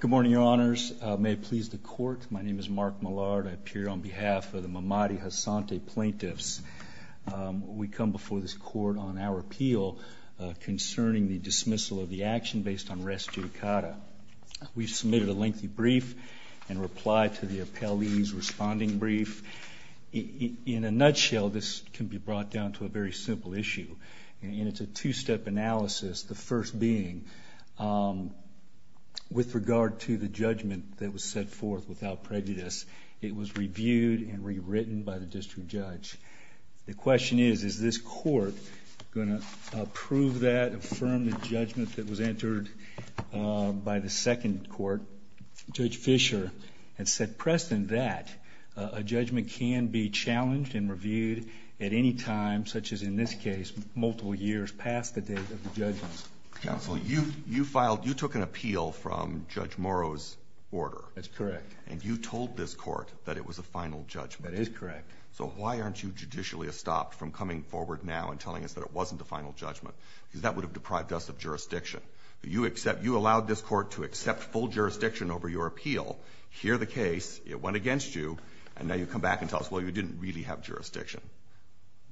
Good morning, Your Honors. May it please the Court, my name is Mark Millard. I appear on behalf of the Mamadi Hassanati plaintiffs. We come before this Court on our appeal concerning the dismissal of the action based on res judicata. We've submitted a lengthy brief and replied to the appellee's responding brief. In a nutshell, this can be brought down to a very simple issue, and it's a two-step analysis. The first being, with regard to the judgment that was set forth without prejudice, it was reviewed and rewritten by the district judge. The question is, is this Court going to approve that, affirm the judgment that was entered by the second court? Judge Fisher had set precedent that a judgment can be challenged and reviewed at any time, such as in this case, multiple years past the date of the judgment. Counsel, you took an appeal from Judge Morrow's order. That's correct. And you told this Court that it was a final judgment. That is correct. So why aren't you judicially stopped from coming forward now and telling us that it wasn't a final judgment? Because that would have deprived us of jurisdiction. You allowed this Court to accept full jurisdiction over your appeal, hear the case, it went against you, and now you come back and tell us, well, you didn't really have jurisdiction.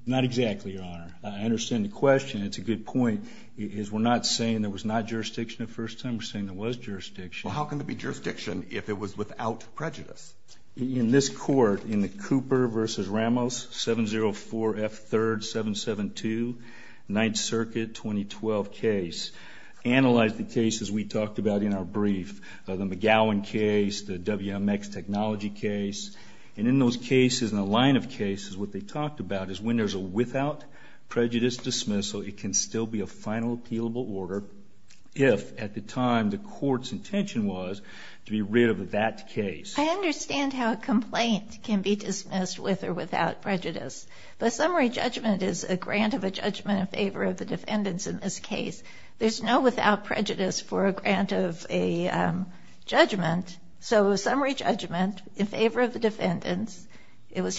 Not exactly, Your Honor. I understand the question. It's a good point. We're not saying there was not jurisdiction the first time. We're saying there was jurisdiction. Well, how can there be jurisdiction if it was without prejudice? In this Court, in the Cooper v. Ramos, 704 F. 3rd, 772, 9th Circuit, 2012 case, analyzed the cases we talked about in our brief, the McGowan case, the WMX technology case. And in those cases, what we talked about is when there's a without prejudice dismissal, it can still be a final appealable order if, at the time, the Court's intention was to be rid of that case. I understand how a complaint can be dismissed with or without prejudice. But a summary judgment is a grant of a judgment in favor of the defendants in this case. There's no without prejudice for a grant of a judgment. So a summary judgment in favor of the defendant is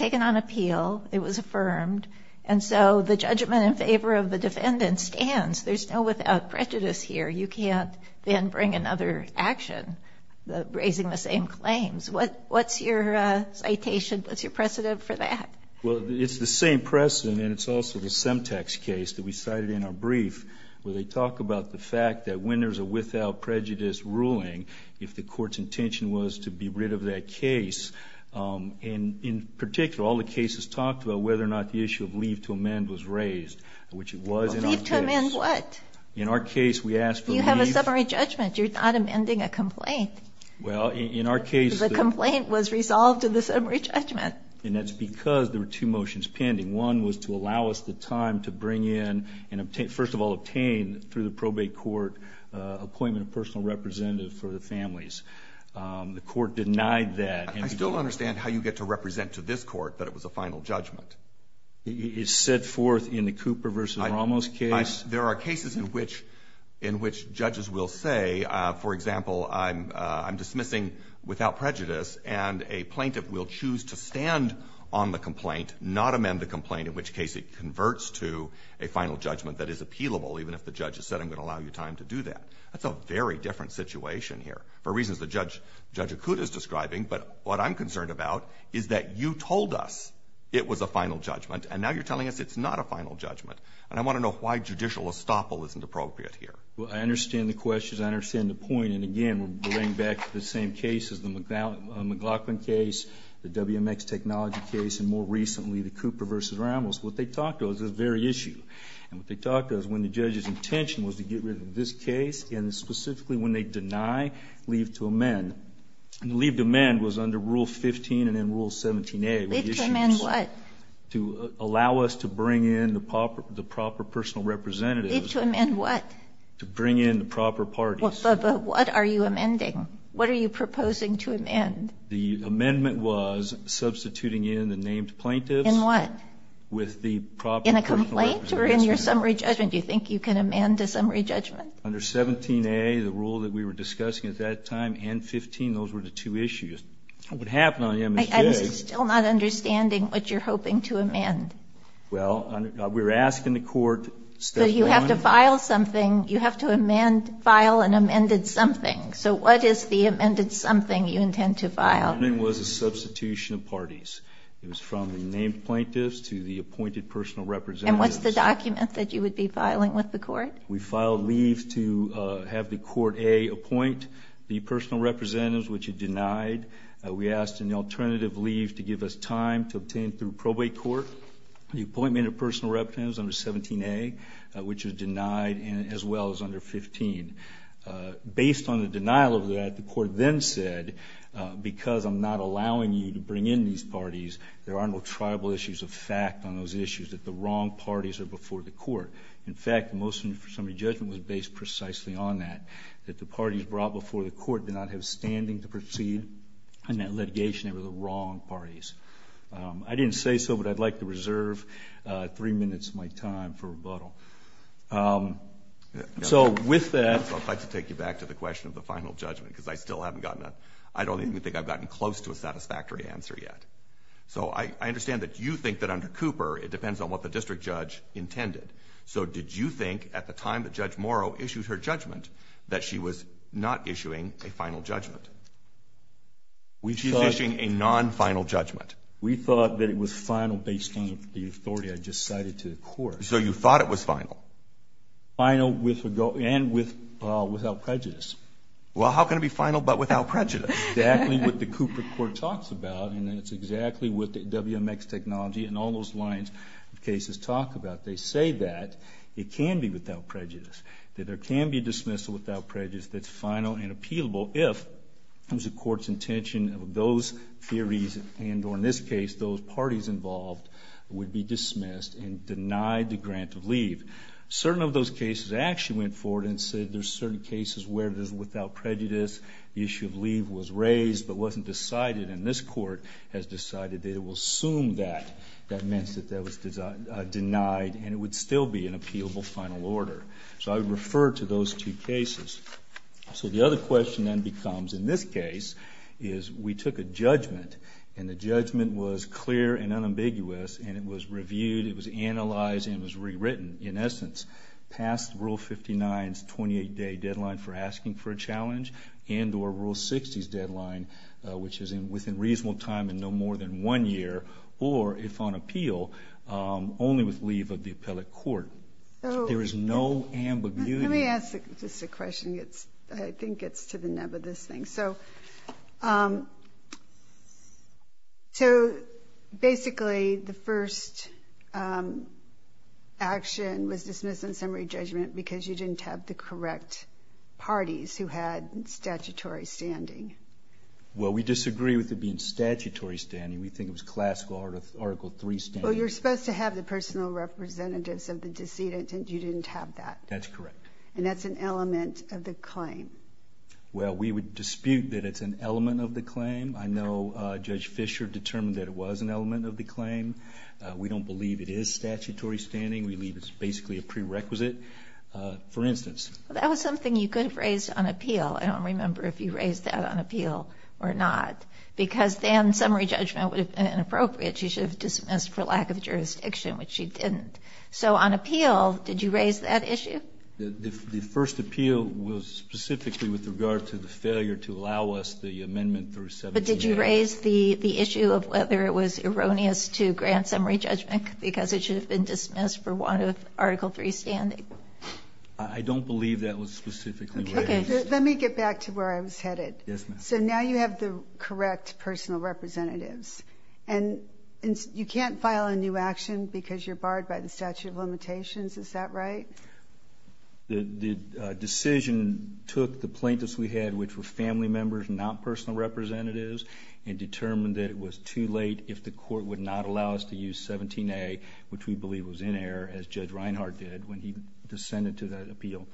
affirmed. And so the judgment in favor of the defendant stands. There's no without prejudice here. You can't then bring another action, raising the same claims. What's your citation? What's your precedent for that? Well, it's the same precedent, and it's also the Semtex case that we cited in our brief, where they talk about the fact that when there's a without prejudice ruling, if the Court's intention was to be rid of that case, and in particular, all the cases talked about whether or not the issue of leave to amend was raised, which it was in our case. Leave to amend what? In our case, we asked for leave. You have a summary judgment. You're not amending a complaint. Well, in our case, the – The complaint was resolved in the summary judgment. And that's because there were two motions pending. One was to allow us the time to bring in and, first of all, obtain through the probate court appointment of personal representative for the families. The Court denied that. I still don't understand how you get to represent to this Court that it was a final judgment. It's set forth in the Cooper v. Ramos case. There are cases in which judges will say, for example, I'm dismissing without prejudice, and a plaintiff will choose to stand on the complaint, not amend the complaint, in which case it converts to a final judgment that is appealable, even if the judge has said I'm going to allow you time to do that. That's a very different situation here, for reasons that Judge Acuda is describing. But what I'm concerned about is that you told us it was a final judgment, and now you're telling us it's not a final judgment. And I want to know why judicial estoppel isn't appropriate here. Well, I understand the question. I understand the point. And, again, we're going back to the same cases, the McLaughlin case, the WMX Technology case, and more recently, the Cooper v. Ramos. What they talked about is this very issue. And what they talked about is when the judge's intention was to get rid of this case, and specifically when they deny leave to amend. And leave to amend was under Rule 15 and in Rule 17a. Leave to amend what? To allow us to bring in the proper personal representatives. Leave to amend what? To bring in the proper parties. But what are you amending? What are you proposing to amend? The amendment was substituting in the named plaintiffs. In what? With the proper personal representatives. In a complaint or in your summary judgment? Do you think you can amend a summary judgment? Under 17a, the rule that we were discussing at that time, and 15, those were the two issues. What happened on the MSJ. I'm still not understanding what you're hoping to amend. Well, we're asking the Court. But you have to file something. You have to file an amended something. So what is the amended something you intend to file? The amendment was a substitution of parties. It was from the named plaintiffs to the appointed personal representatives. And what's the document that you would be filing with the Court? We filed leave to have the Court, A, appoint the personal representatives, which it denied. We asked an alternative leave to give us time to obtain through probate court. The appointment of personal representatives under 17a, which was denied, as well as under 15. Based on the denial of that, the Court then said, because I'm not allowing you to bring in these parties, there are no tribal issues of fact on those issues. That the wrong parties are before the Court. In fact, the motion for summary judgment was based precisely on that. That the parties brought before the Court did not have standing to proceed in that litigation. They were the wrong parties. I didn't say so, but I'd like to reserve three minutes of my time for rebuttal. So, with that... I'd like to take you back to the question of the final judgment, because I still haven't gotten... I don't even think I've gotten close to a satisfactory answer yet. So, I understand that you think that under Cooper, it depends on what the district judge intended. So, did you think, at the time that Judge Morrow issued her judgment, that she was not issuing a final judgment? She's issuing a non-final judgment. We thought that it was final based on the authority I just cited to the Court. So, you thought it was final? Final and without prejudice. Well, how can it be final but without prejudice? Exactly what the Cooper Court talks about, and it's exactly what the WMX technology and all those lines of it can be without prejudice. That there can be a dismissal without prejudice that's final and appealable if it was the Court's intention of those theories and, or in this case, those parties involved would be dismissed and denied the grant of leave. Certain of those cases actually went forward and said there's certain cases where it is without prejudice, the issue of leave was raised but wasn't decided, and this Court has decided that it will assume that. That meant that that was denied and it would still be an appealable final order. So, I would refer to those two cases. So, the other question then becomes, in this case, is we took a judgment and the judgment was clear and unambiguous and it was reviewed, it was analyzed and it was rewritten, in essence, past Rule 59's 28-day deadline for asking for a challenge and or Rule 60's deadline, which is within reasonable time and no more than one year, or if on appeal, only with leave of the appellate court. There is no ambiguity. Let me ask just a question. I think it gets to the nub of this thing. So, basically, the first action was dismissal and summary judgment because you didn't have the correct parties who had statutory standing. Well, we disagree with it being statutory standing. We think it was classical Article III standing. Well, you're supposed to have the personal representatives of the decedent, and you didn't have that. That's correct. And that's an element of the claim. Well, we would dispute that it's an element of the claim. I know Judge Fischer determined that it was an element of the claim. We don't believe it is statutory standing. We believe it's basically a prerequisite, for instance. That was something you could have raised on appeal. I don't remember if you raised that on appeal or not, because then summary judgment would have been inappropriate. She should have dismissed for lack of jurisdiction, which she didn't. So, on appeal, did you raise that issue? The first appeal was specifically with regard to the failure to allow us the amendment through 1780. But did you raise the issue of whether it was erroneous to grant summary judgment because it should have been dismissed for want of Article III standing? I don't believe that was specifically raised. Let me get back to where I was headed. So now you have the correct personal representatives. And you can't file a new action because you're barred by the statute of limitations. Is that right? The decision took the plaintiffs we had, which were family members, not personal representatives, and determined that it was too late if the court would not allow us to use 17A, which we believe was in error, as Judge Reinhart did when he descended to that appeal.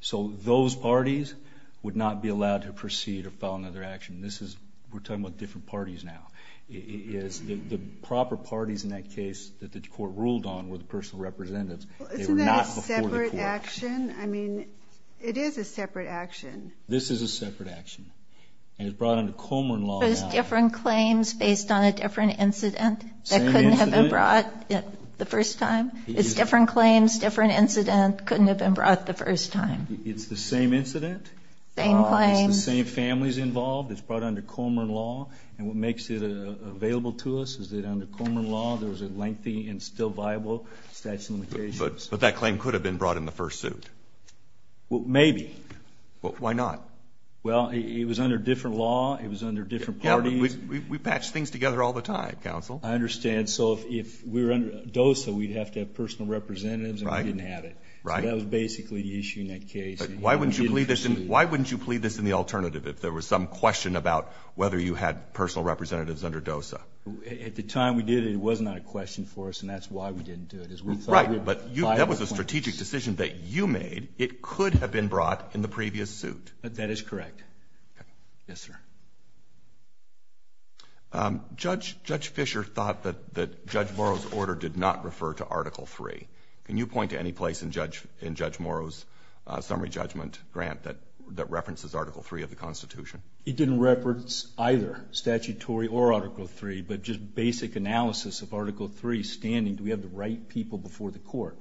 So those parties would not be allowed to proceed or file another action. We're talking about different parties now. The proper parties in that case that the court ruled on were the personal representatives. Isn't that a separate action? I mean, it is a separate action. This is a separate action. And it's brought under Comeron law now. It's different claims based on a different incident that couldn't have been brought the first time. It's different claims, different incident, couldn't have been brought the first time. It's the same incident. Same claims. It's the same families involved. It's brought under Comeron law. And what makes it available to us is that under Comeron law, there was a lengthy and still viable statute of limitations. But that claim could have been brought in the first suit. Well, maybe. Why not? Well, it was under different law. It was under different parties. We patch things together all the time, counsel. I understand. So if we were under DOSA, we'd have to have personal representatives, and we didn't have it. Right. So that was basically the issue in that case. Why wouldn't you plead this in the alternative if there was some question about whether you had personal representatives under DOSA? At the time we did it, it was not a question for us, and that's why we didn't do it. Right. But that was a strategic decision that you made. It could have been brought in the previous suit. That is correct. Okay. Yes, sir. Judge Fischer thought that Judge Morrow's order did not refer to Article III. Can you point to any place in Judge Morrow's summary judgment grant that references Article III of the Constitution? It didn't reference either statutory or Article III, but just basic analysis of Article III standing. Do we have the right people before the court?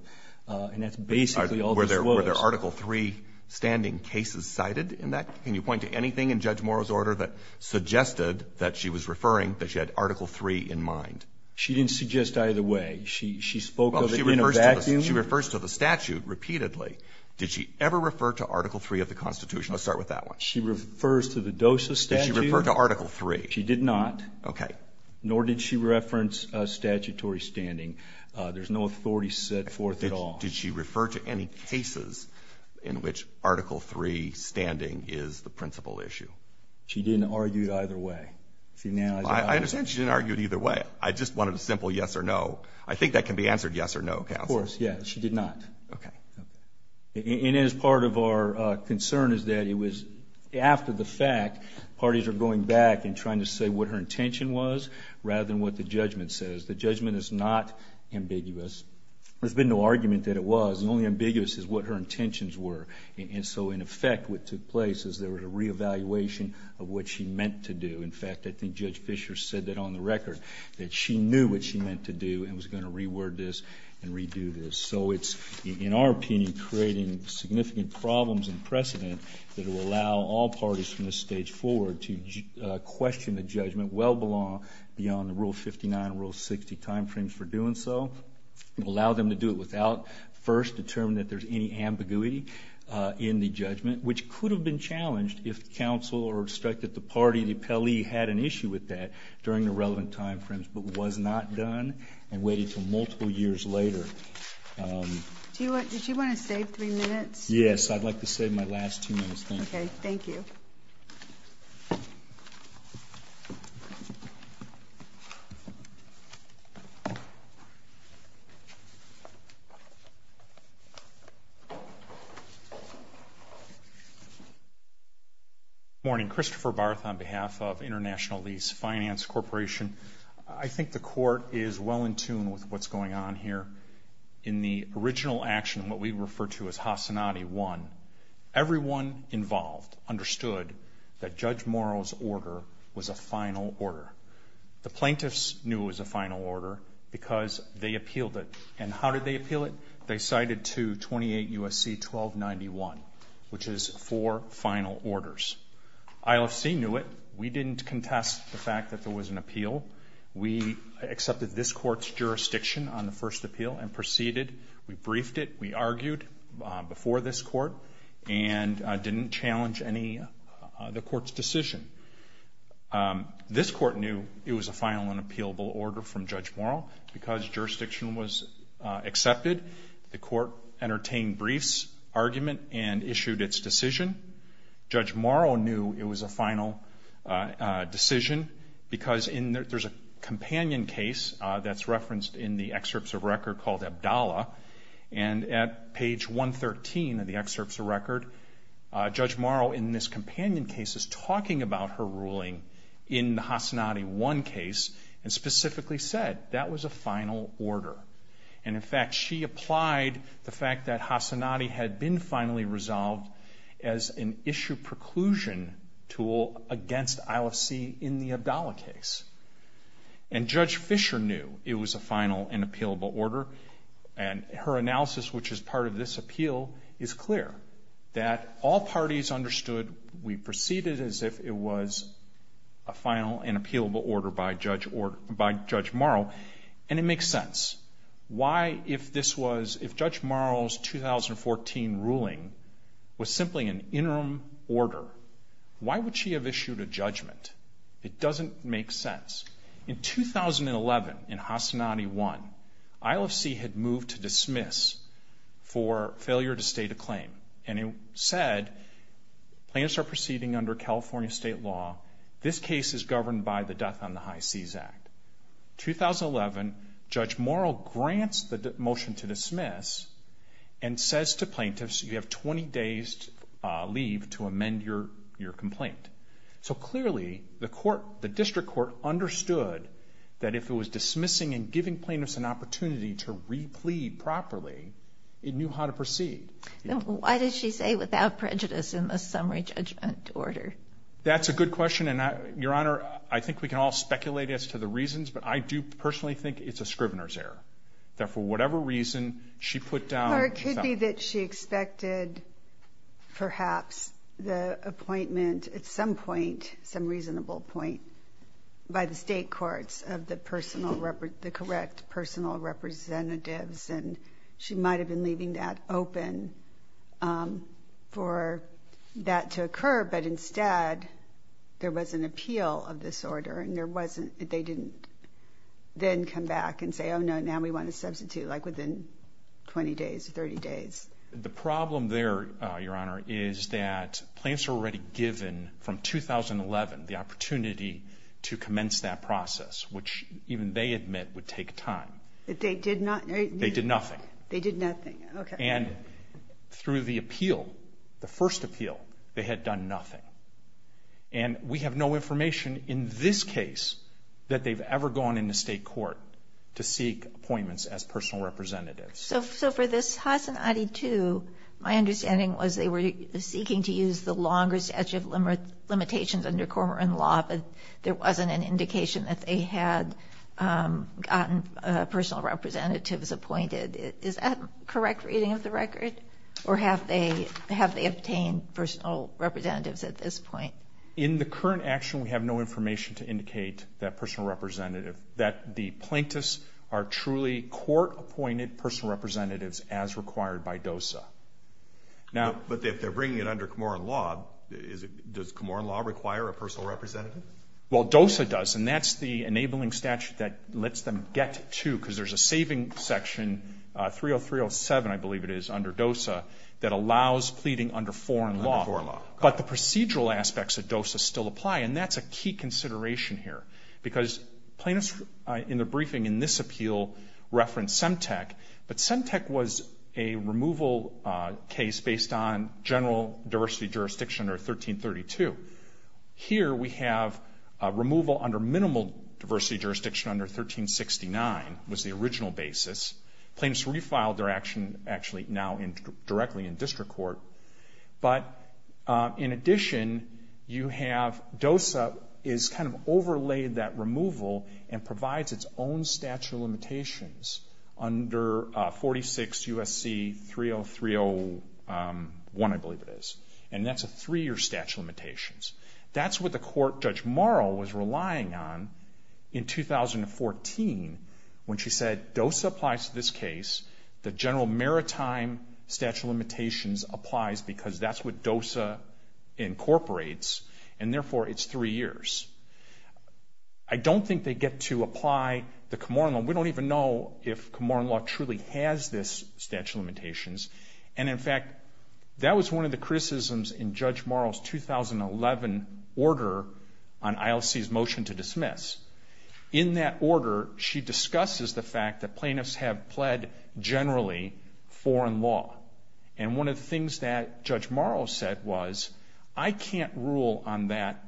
And that's basically all this was. Were there Article III standing cases cited in that? Can you point to anything in Judge Morrow's order that suggested that she was referring, that she had Article III in mind? She didn't suggest either way. She spoke of it in a vacuum. She refers to the statute repeatedly. Did she ever refer to Article III of the Constitution? Let's start with that one. She refers to the DOSA statute. Did she refer to Article III? She did not. Okay. Nor did she reference statutory standing. There's no authority set forth at all. Did she refer to any cases in which Article III standing is the principal issue? She didn't argue either way. I understand she didn't argue it either way. I just wanted a simple yes or no. I think that can be answered yes or no, counsel. Of course, yes. She did not. Okay. And as part of our concern is that it was after the fact, parties are going back and trying to say what her intention was rather than what the judgment says. The judgment is not ambiguous. There's been no argument that it was. The only ambiguous is what her intentions were. And so, in effect, what took place is there was a reevaluation of what she meant to do. In fact, I think Judge Fischer said that on the record, that she knew what she meant to do and was going to reword this and redo this. So it's, in our opinion, creating significant problems and precedent that will allow all parties from this stage forward to question the judgment that would well belong beyond the Rule 59 and Rule 60 time frames for doing so. Allow them to do it without first determining that there's any ambiguity in the judgment, which could have been challenged if counsel or the party, the appellee, had an issue with that during the relevant time frames, but was not done and waited until multiple years later. Did you want to save three minutes? Yes, I'd like to save my last two minutes. Thank you. Okay. Thank you. Thank you. Good morning. Christopher Barth on behalf of International Lease Finance Corporation. I think the Court is well in tune with what's going on here. In the original action, what we refer to as Hasanati 1, everyone involved understood that Judge Morrow's order was a final order. The plaintiffs knew it was a final order because they appealed it. And how did they appeal it? They cited to 28 U.S.C. 1291, which is four final orders. ILC knew it. We didn't contest the fact that there was an appeal. We accepted this Court's jurisdiction on the first appeal and proceeded. We briefed it. We argued before this Court and didn't challenge the Court's decision. This Court knew it was a final and appealable order from Judge Morrow because jurisdiction was accepted. The Court entertained briefs, argument, and issued its decision. Judge Morrow knew it was a final decision because there's a companion case that's referenced in the excerpts of record called Abdallah. And at page 113 of the excerpts of record, Judge Morrow in this companion case is talking about her ruling in the Hasanati 1 case and specifically said that was a final order. And in fact, she applied the fact that Hasanati had been finally resolved as an issue preclusion tool against ILC in the Abdallah case. And Judge Fisher knew it was a final and appealable order. And her analysis, which is part of this appeal, is clear. That all parties understood we proceeded as if it was a final and appealable order by Judge Morrow. And it makes sense. Why, if this was, if Judge Morrow's 2014 ruling was simply an interim order, why would she have issued a judgment? It doesn't make sense. In 2011, in Hasanati 1, ILC had moved to dismiss for failure to state a claim. And it said plaintiffs are proceeding under California state law. This case is governed by the Death on the High Seas Act. 2011, Judge Morrow grants the motion to dismiss and says to plaintiffs, you have 20 days leave to amend your complaint. So clearly, the district court understood that if it was dismissing and giving plaintiffs an opportunity to replead properly, it knew how to proceed. Why did she say without prejudice in the summary judgment order? That's a good question. Your Honor, I think we can all speculate as to the reasons, but I do personally think it's a scrivener's error. That for whatever reason, she put down... Or it could be that she expected perhaps the appointment at some point, some reasonable point, by the state courts of the personal, the correct personal representatives. And she might have been leaving that open for that to occur. But instead, there was an appeal of this order. And there wasn't... They didn't then come back and say, oh, no, now we want to substitute, like within 20 days or 30 days. The problem there, Your Honor, is that plaintiffs were already given from 2011 the opportunity to commence that process, which even they admit would take time. But they did not... They did nothing. They did nothing. Okay. And through the appeal, the first appeal, they had done nothing. And we have no information in this case that they've ever gone into state court to seek appointments as personal representatives. So for this Hassan Adi 2, my understanding was they were seeking to use the longer statute of limitations under Cormoran law, but there wasn't an indication that they had gotten personal representatives appointed. Is that correct reading of the record? Or have they obtained personal representatives at this point? In the current action, we have no information to indicate that personal representative, that the plaintiffs are truly court-appointed personal representatives as required by DOSA. But if they're bringing it under Cormoran law, does Cormoran law require a personal representative? Well, DOSA does. And that's the enabling statute that lets them get to... 30307, I believe it is, under DOSA, that allows pleading under foreign law. But the procedural aspects of DOSA still apply. And that's a key consideration here. Because plaintiffs in the briefing in this appeal referenced Semtec. But Semtec was a removal case based on general diversity jurisdiction under 1332. Here we have removal under minimal diversity jurisdiction under 1369 was the original basis. Plaintiffs refiled their action actually now directly in district court. But in addition, you have... DOSA is kind of overlaid that removal and provides its own statute of limitations under 46 U.S.C. 30301, I believe it is. And that's a three-year statute of limitations. That's what the court Judge Morrow was relying on in 2014 when she said DOSA applies to this case. The general maritime statute of limitations applies because that's what DOSA incorporates. And therefore, it's three years. I don't think they get to apply the Camorra law. We don't even know if Camorra law truly has this statute of limitations. And in fact, that was one of the criticisms in Judge Morrow's 2011 order on ILC's motion to dismiss. In that order, she discusses the fact that plaintiffs have pled generally foreign law. And one of the things that Judge Morrow said was, I can't rule on that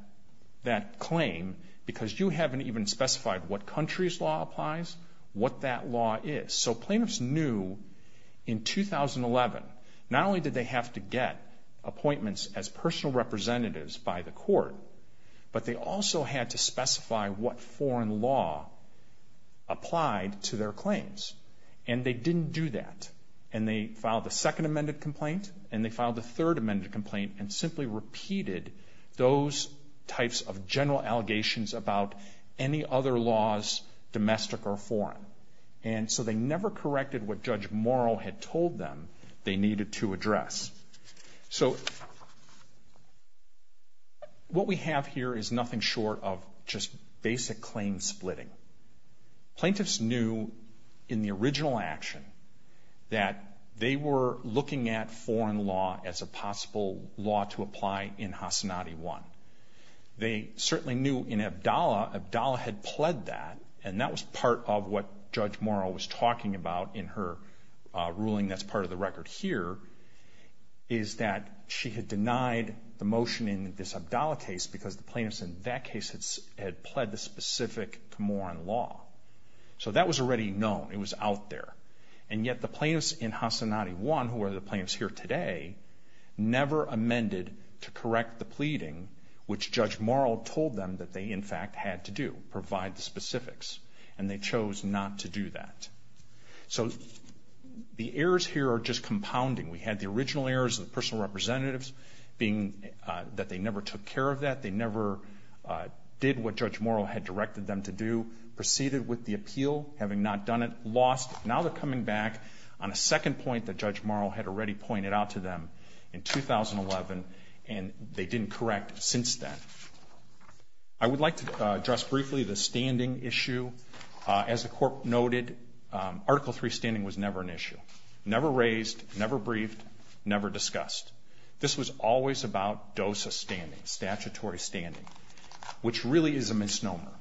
claim because you haven't even specified what country's law applies, what that law is. So plaintiffs knew in 2011, not only did they have to get appointments as personal representatives by the court, but they also had to specify what foreign law applied to their claims. And they didn't do that. And they filed the second amended complaint, and they filed the third amended complaint, and simply repeated those types of general allegations about any other laws, domestic or foreign. And so they never corrected what Judge Morrow had told them they needed to address. So what we have here is nothing short of just basic claim splitting. Plaintiffs knew in the original action that they were looking at foreign law as a possible law to apply in Hasanati 1. They certainly knew in Abdallah, Abdallah had pled that, and that was part of what Judge Morrow was talking about in her ruling that's part of the record here. Is that she had denied the motion in this Abdallah case, because the plaintiffs in that case had pled the specific Camoran law. So that was already known, it was out there. And yet the plaintiffs in Hasanati 1, who are the plaintiffs here today, never amended to correct the pleading which Judge Morrow told them that they in fact had to do, provide the specifics, and they chose not to do that. So the errors here are just compounding. We had the original errors of the personal representatives being that they never took care of that, they never did what Judge Morrow had directed them to do, proceeded with the appeal, having not done it, lost. Now they're coming back on a second point that Judge Morrow had already pointed out to them in 2011, and they didn't correct since then. I would like to address briefly the standing issue. As the Court noted, Article III standing was never an issue. Never raised, never briefed, never discussed. This was always about DOSA standing, statutory standing, which really is a misnomer.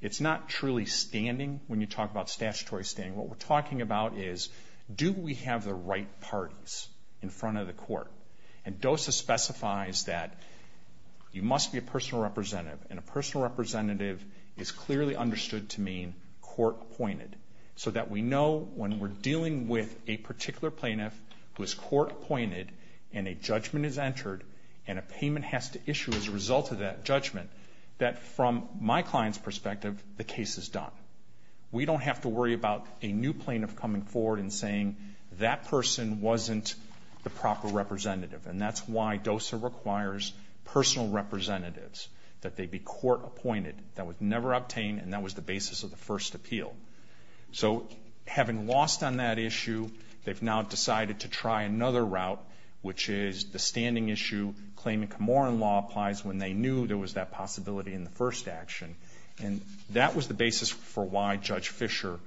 It's not truly standing when you talk about statutory standing. What we're talking about is, do we have the right parties in front of the Court? And DOSA specifies that you must be a personal representative, and a personal representative is clearly understood to mean court-appointed, so that we know when we're dealing with a particular plaintiff who is court-appointed, and a judgment is entered, and a payment has to issue as a result of that judgment, that from my client's perspective, the case is done. We don't have to worry about a new plaintiff coming forward and saying, that person wasn't the proper representative. And that's why DOSA requires personal representatives, that they be court-appointed. That was never obtained, and that was the basis of the first appeal. So, having lost on that issue, they've now decided to try another route, which is the standing issue, claiming Camorra law applies when they knew there was that possibility in the first action. And that was the basis for why Judge Fischer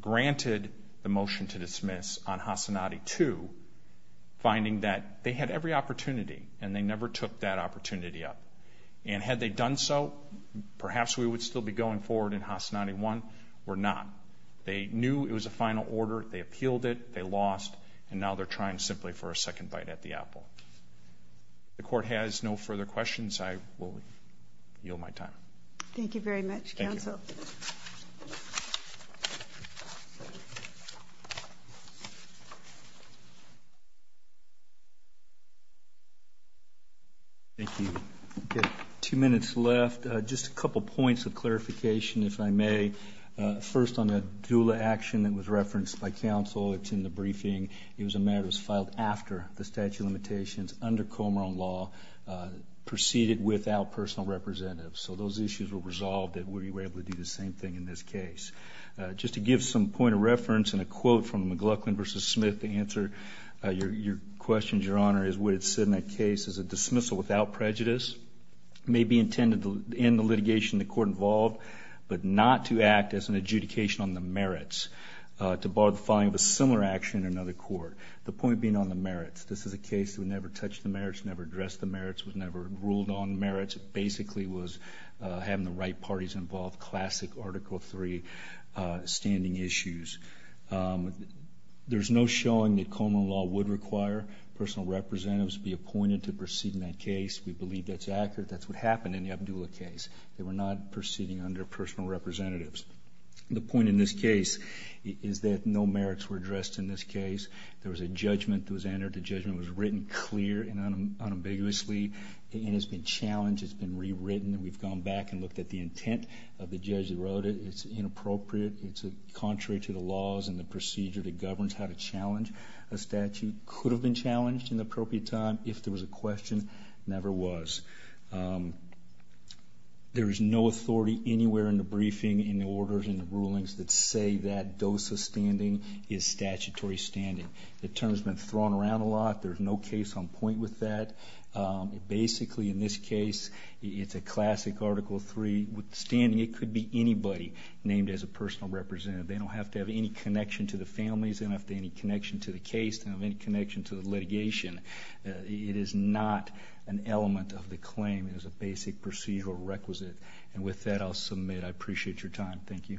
granted the motion to dismiss on Hasanati 2, finding that they had every opportunity, and they never took that opportunity up. And had they done so, perhaps we would still be going forward in Hasanati 1. We're not. They knew it was a final order, they appealed it, they lost, and now they're trying simply for a second bite at the apple. If the court has no further questions, I will yield my time. Thank you very much, counsel. Thank you. Two minutes left. Just a couple points of clarification, if I may. First, on the doula action that was referenced by counsel, it's in the briefing, it was a matter that was filed after the statute of limitations, under Camorra law, proceeded without personal representatives. So those issues were resolved, and we were able to do the same thing in this case. Just to give some point of reference, and a quote from McLaughlin v. Smith to answer your questions, Your Honor, is what it said in that case. It's a dismissal without prejudice. It may be intended to end the litigation of the court involved, but not to act as an adjudication on the merits, to bar the following of a similar action in another court. The point being on the merits. This is a case that never touched the merits, never addressed the merits, was never ruled on merits. It basically was having the right parties involved, classic Article III standing issues. There's no showing that Comer law would require personal representatives to be appointed to proceed in that case. We believe that's accurate. That's what happened in the Abdulla case. They were not proceeding under personal representatives. The point in this case is that no merits were addressed in this case. There was a judgment that was entered. The judgment was written clear and unambiguously. It has been challenged. It's been rewritten. We've gone back and looked at the intent of the judge that wrote it. It's inappropriate. It's contrary to the laws and the procedure that governs how to challenge a statute. It could have been challenged in the appropriate time if there was a question. It never was. There is no authority anywhere in the briefing, in the orders, in the rulings that say that DOSA standing is statutory standing. The term has been thrown around a lot. There's no case on point with that. Basically, in this case, it's a classic Article III standing. It could be anybody named as a personal representative. They don't have to have any connection to the families. They don't have to have any connection to the case. They don't have any connection to the litigation. It is not an element of the claim. It is a basic procedural requisite. With that, I'll submit. I appreciate your time. Thank you. Thank you very much.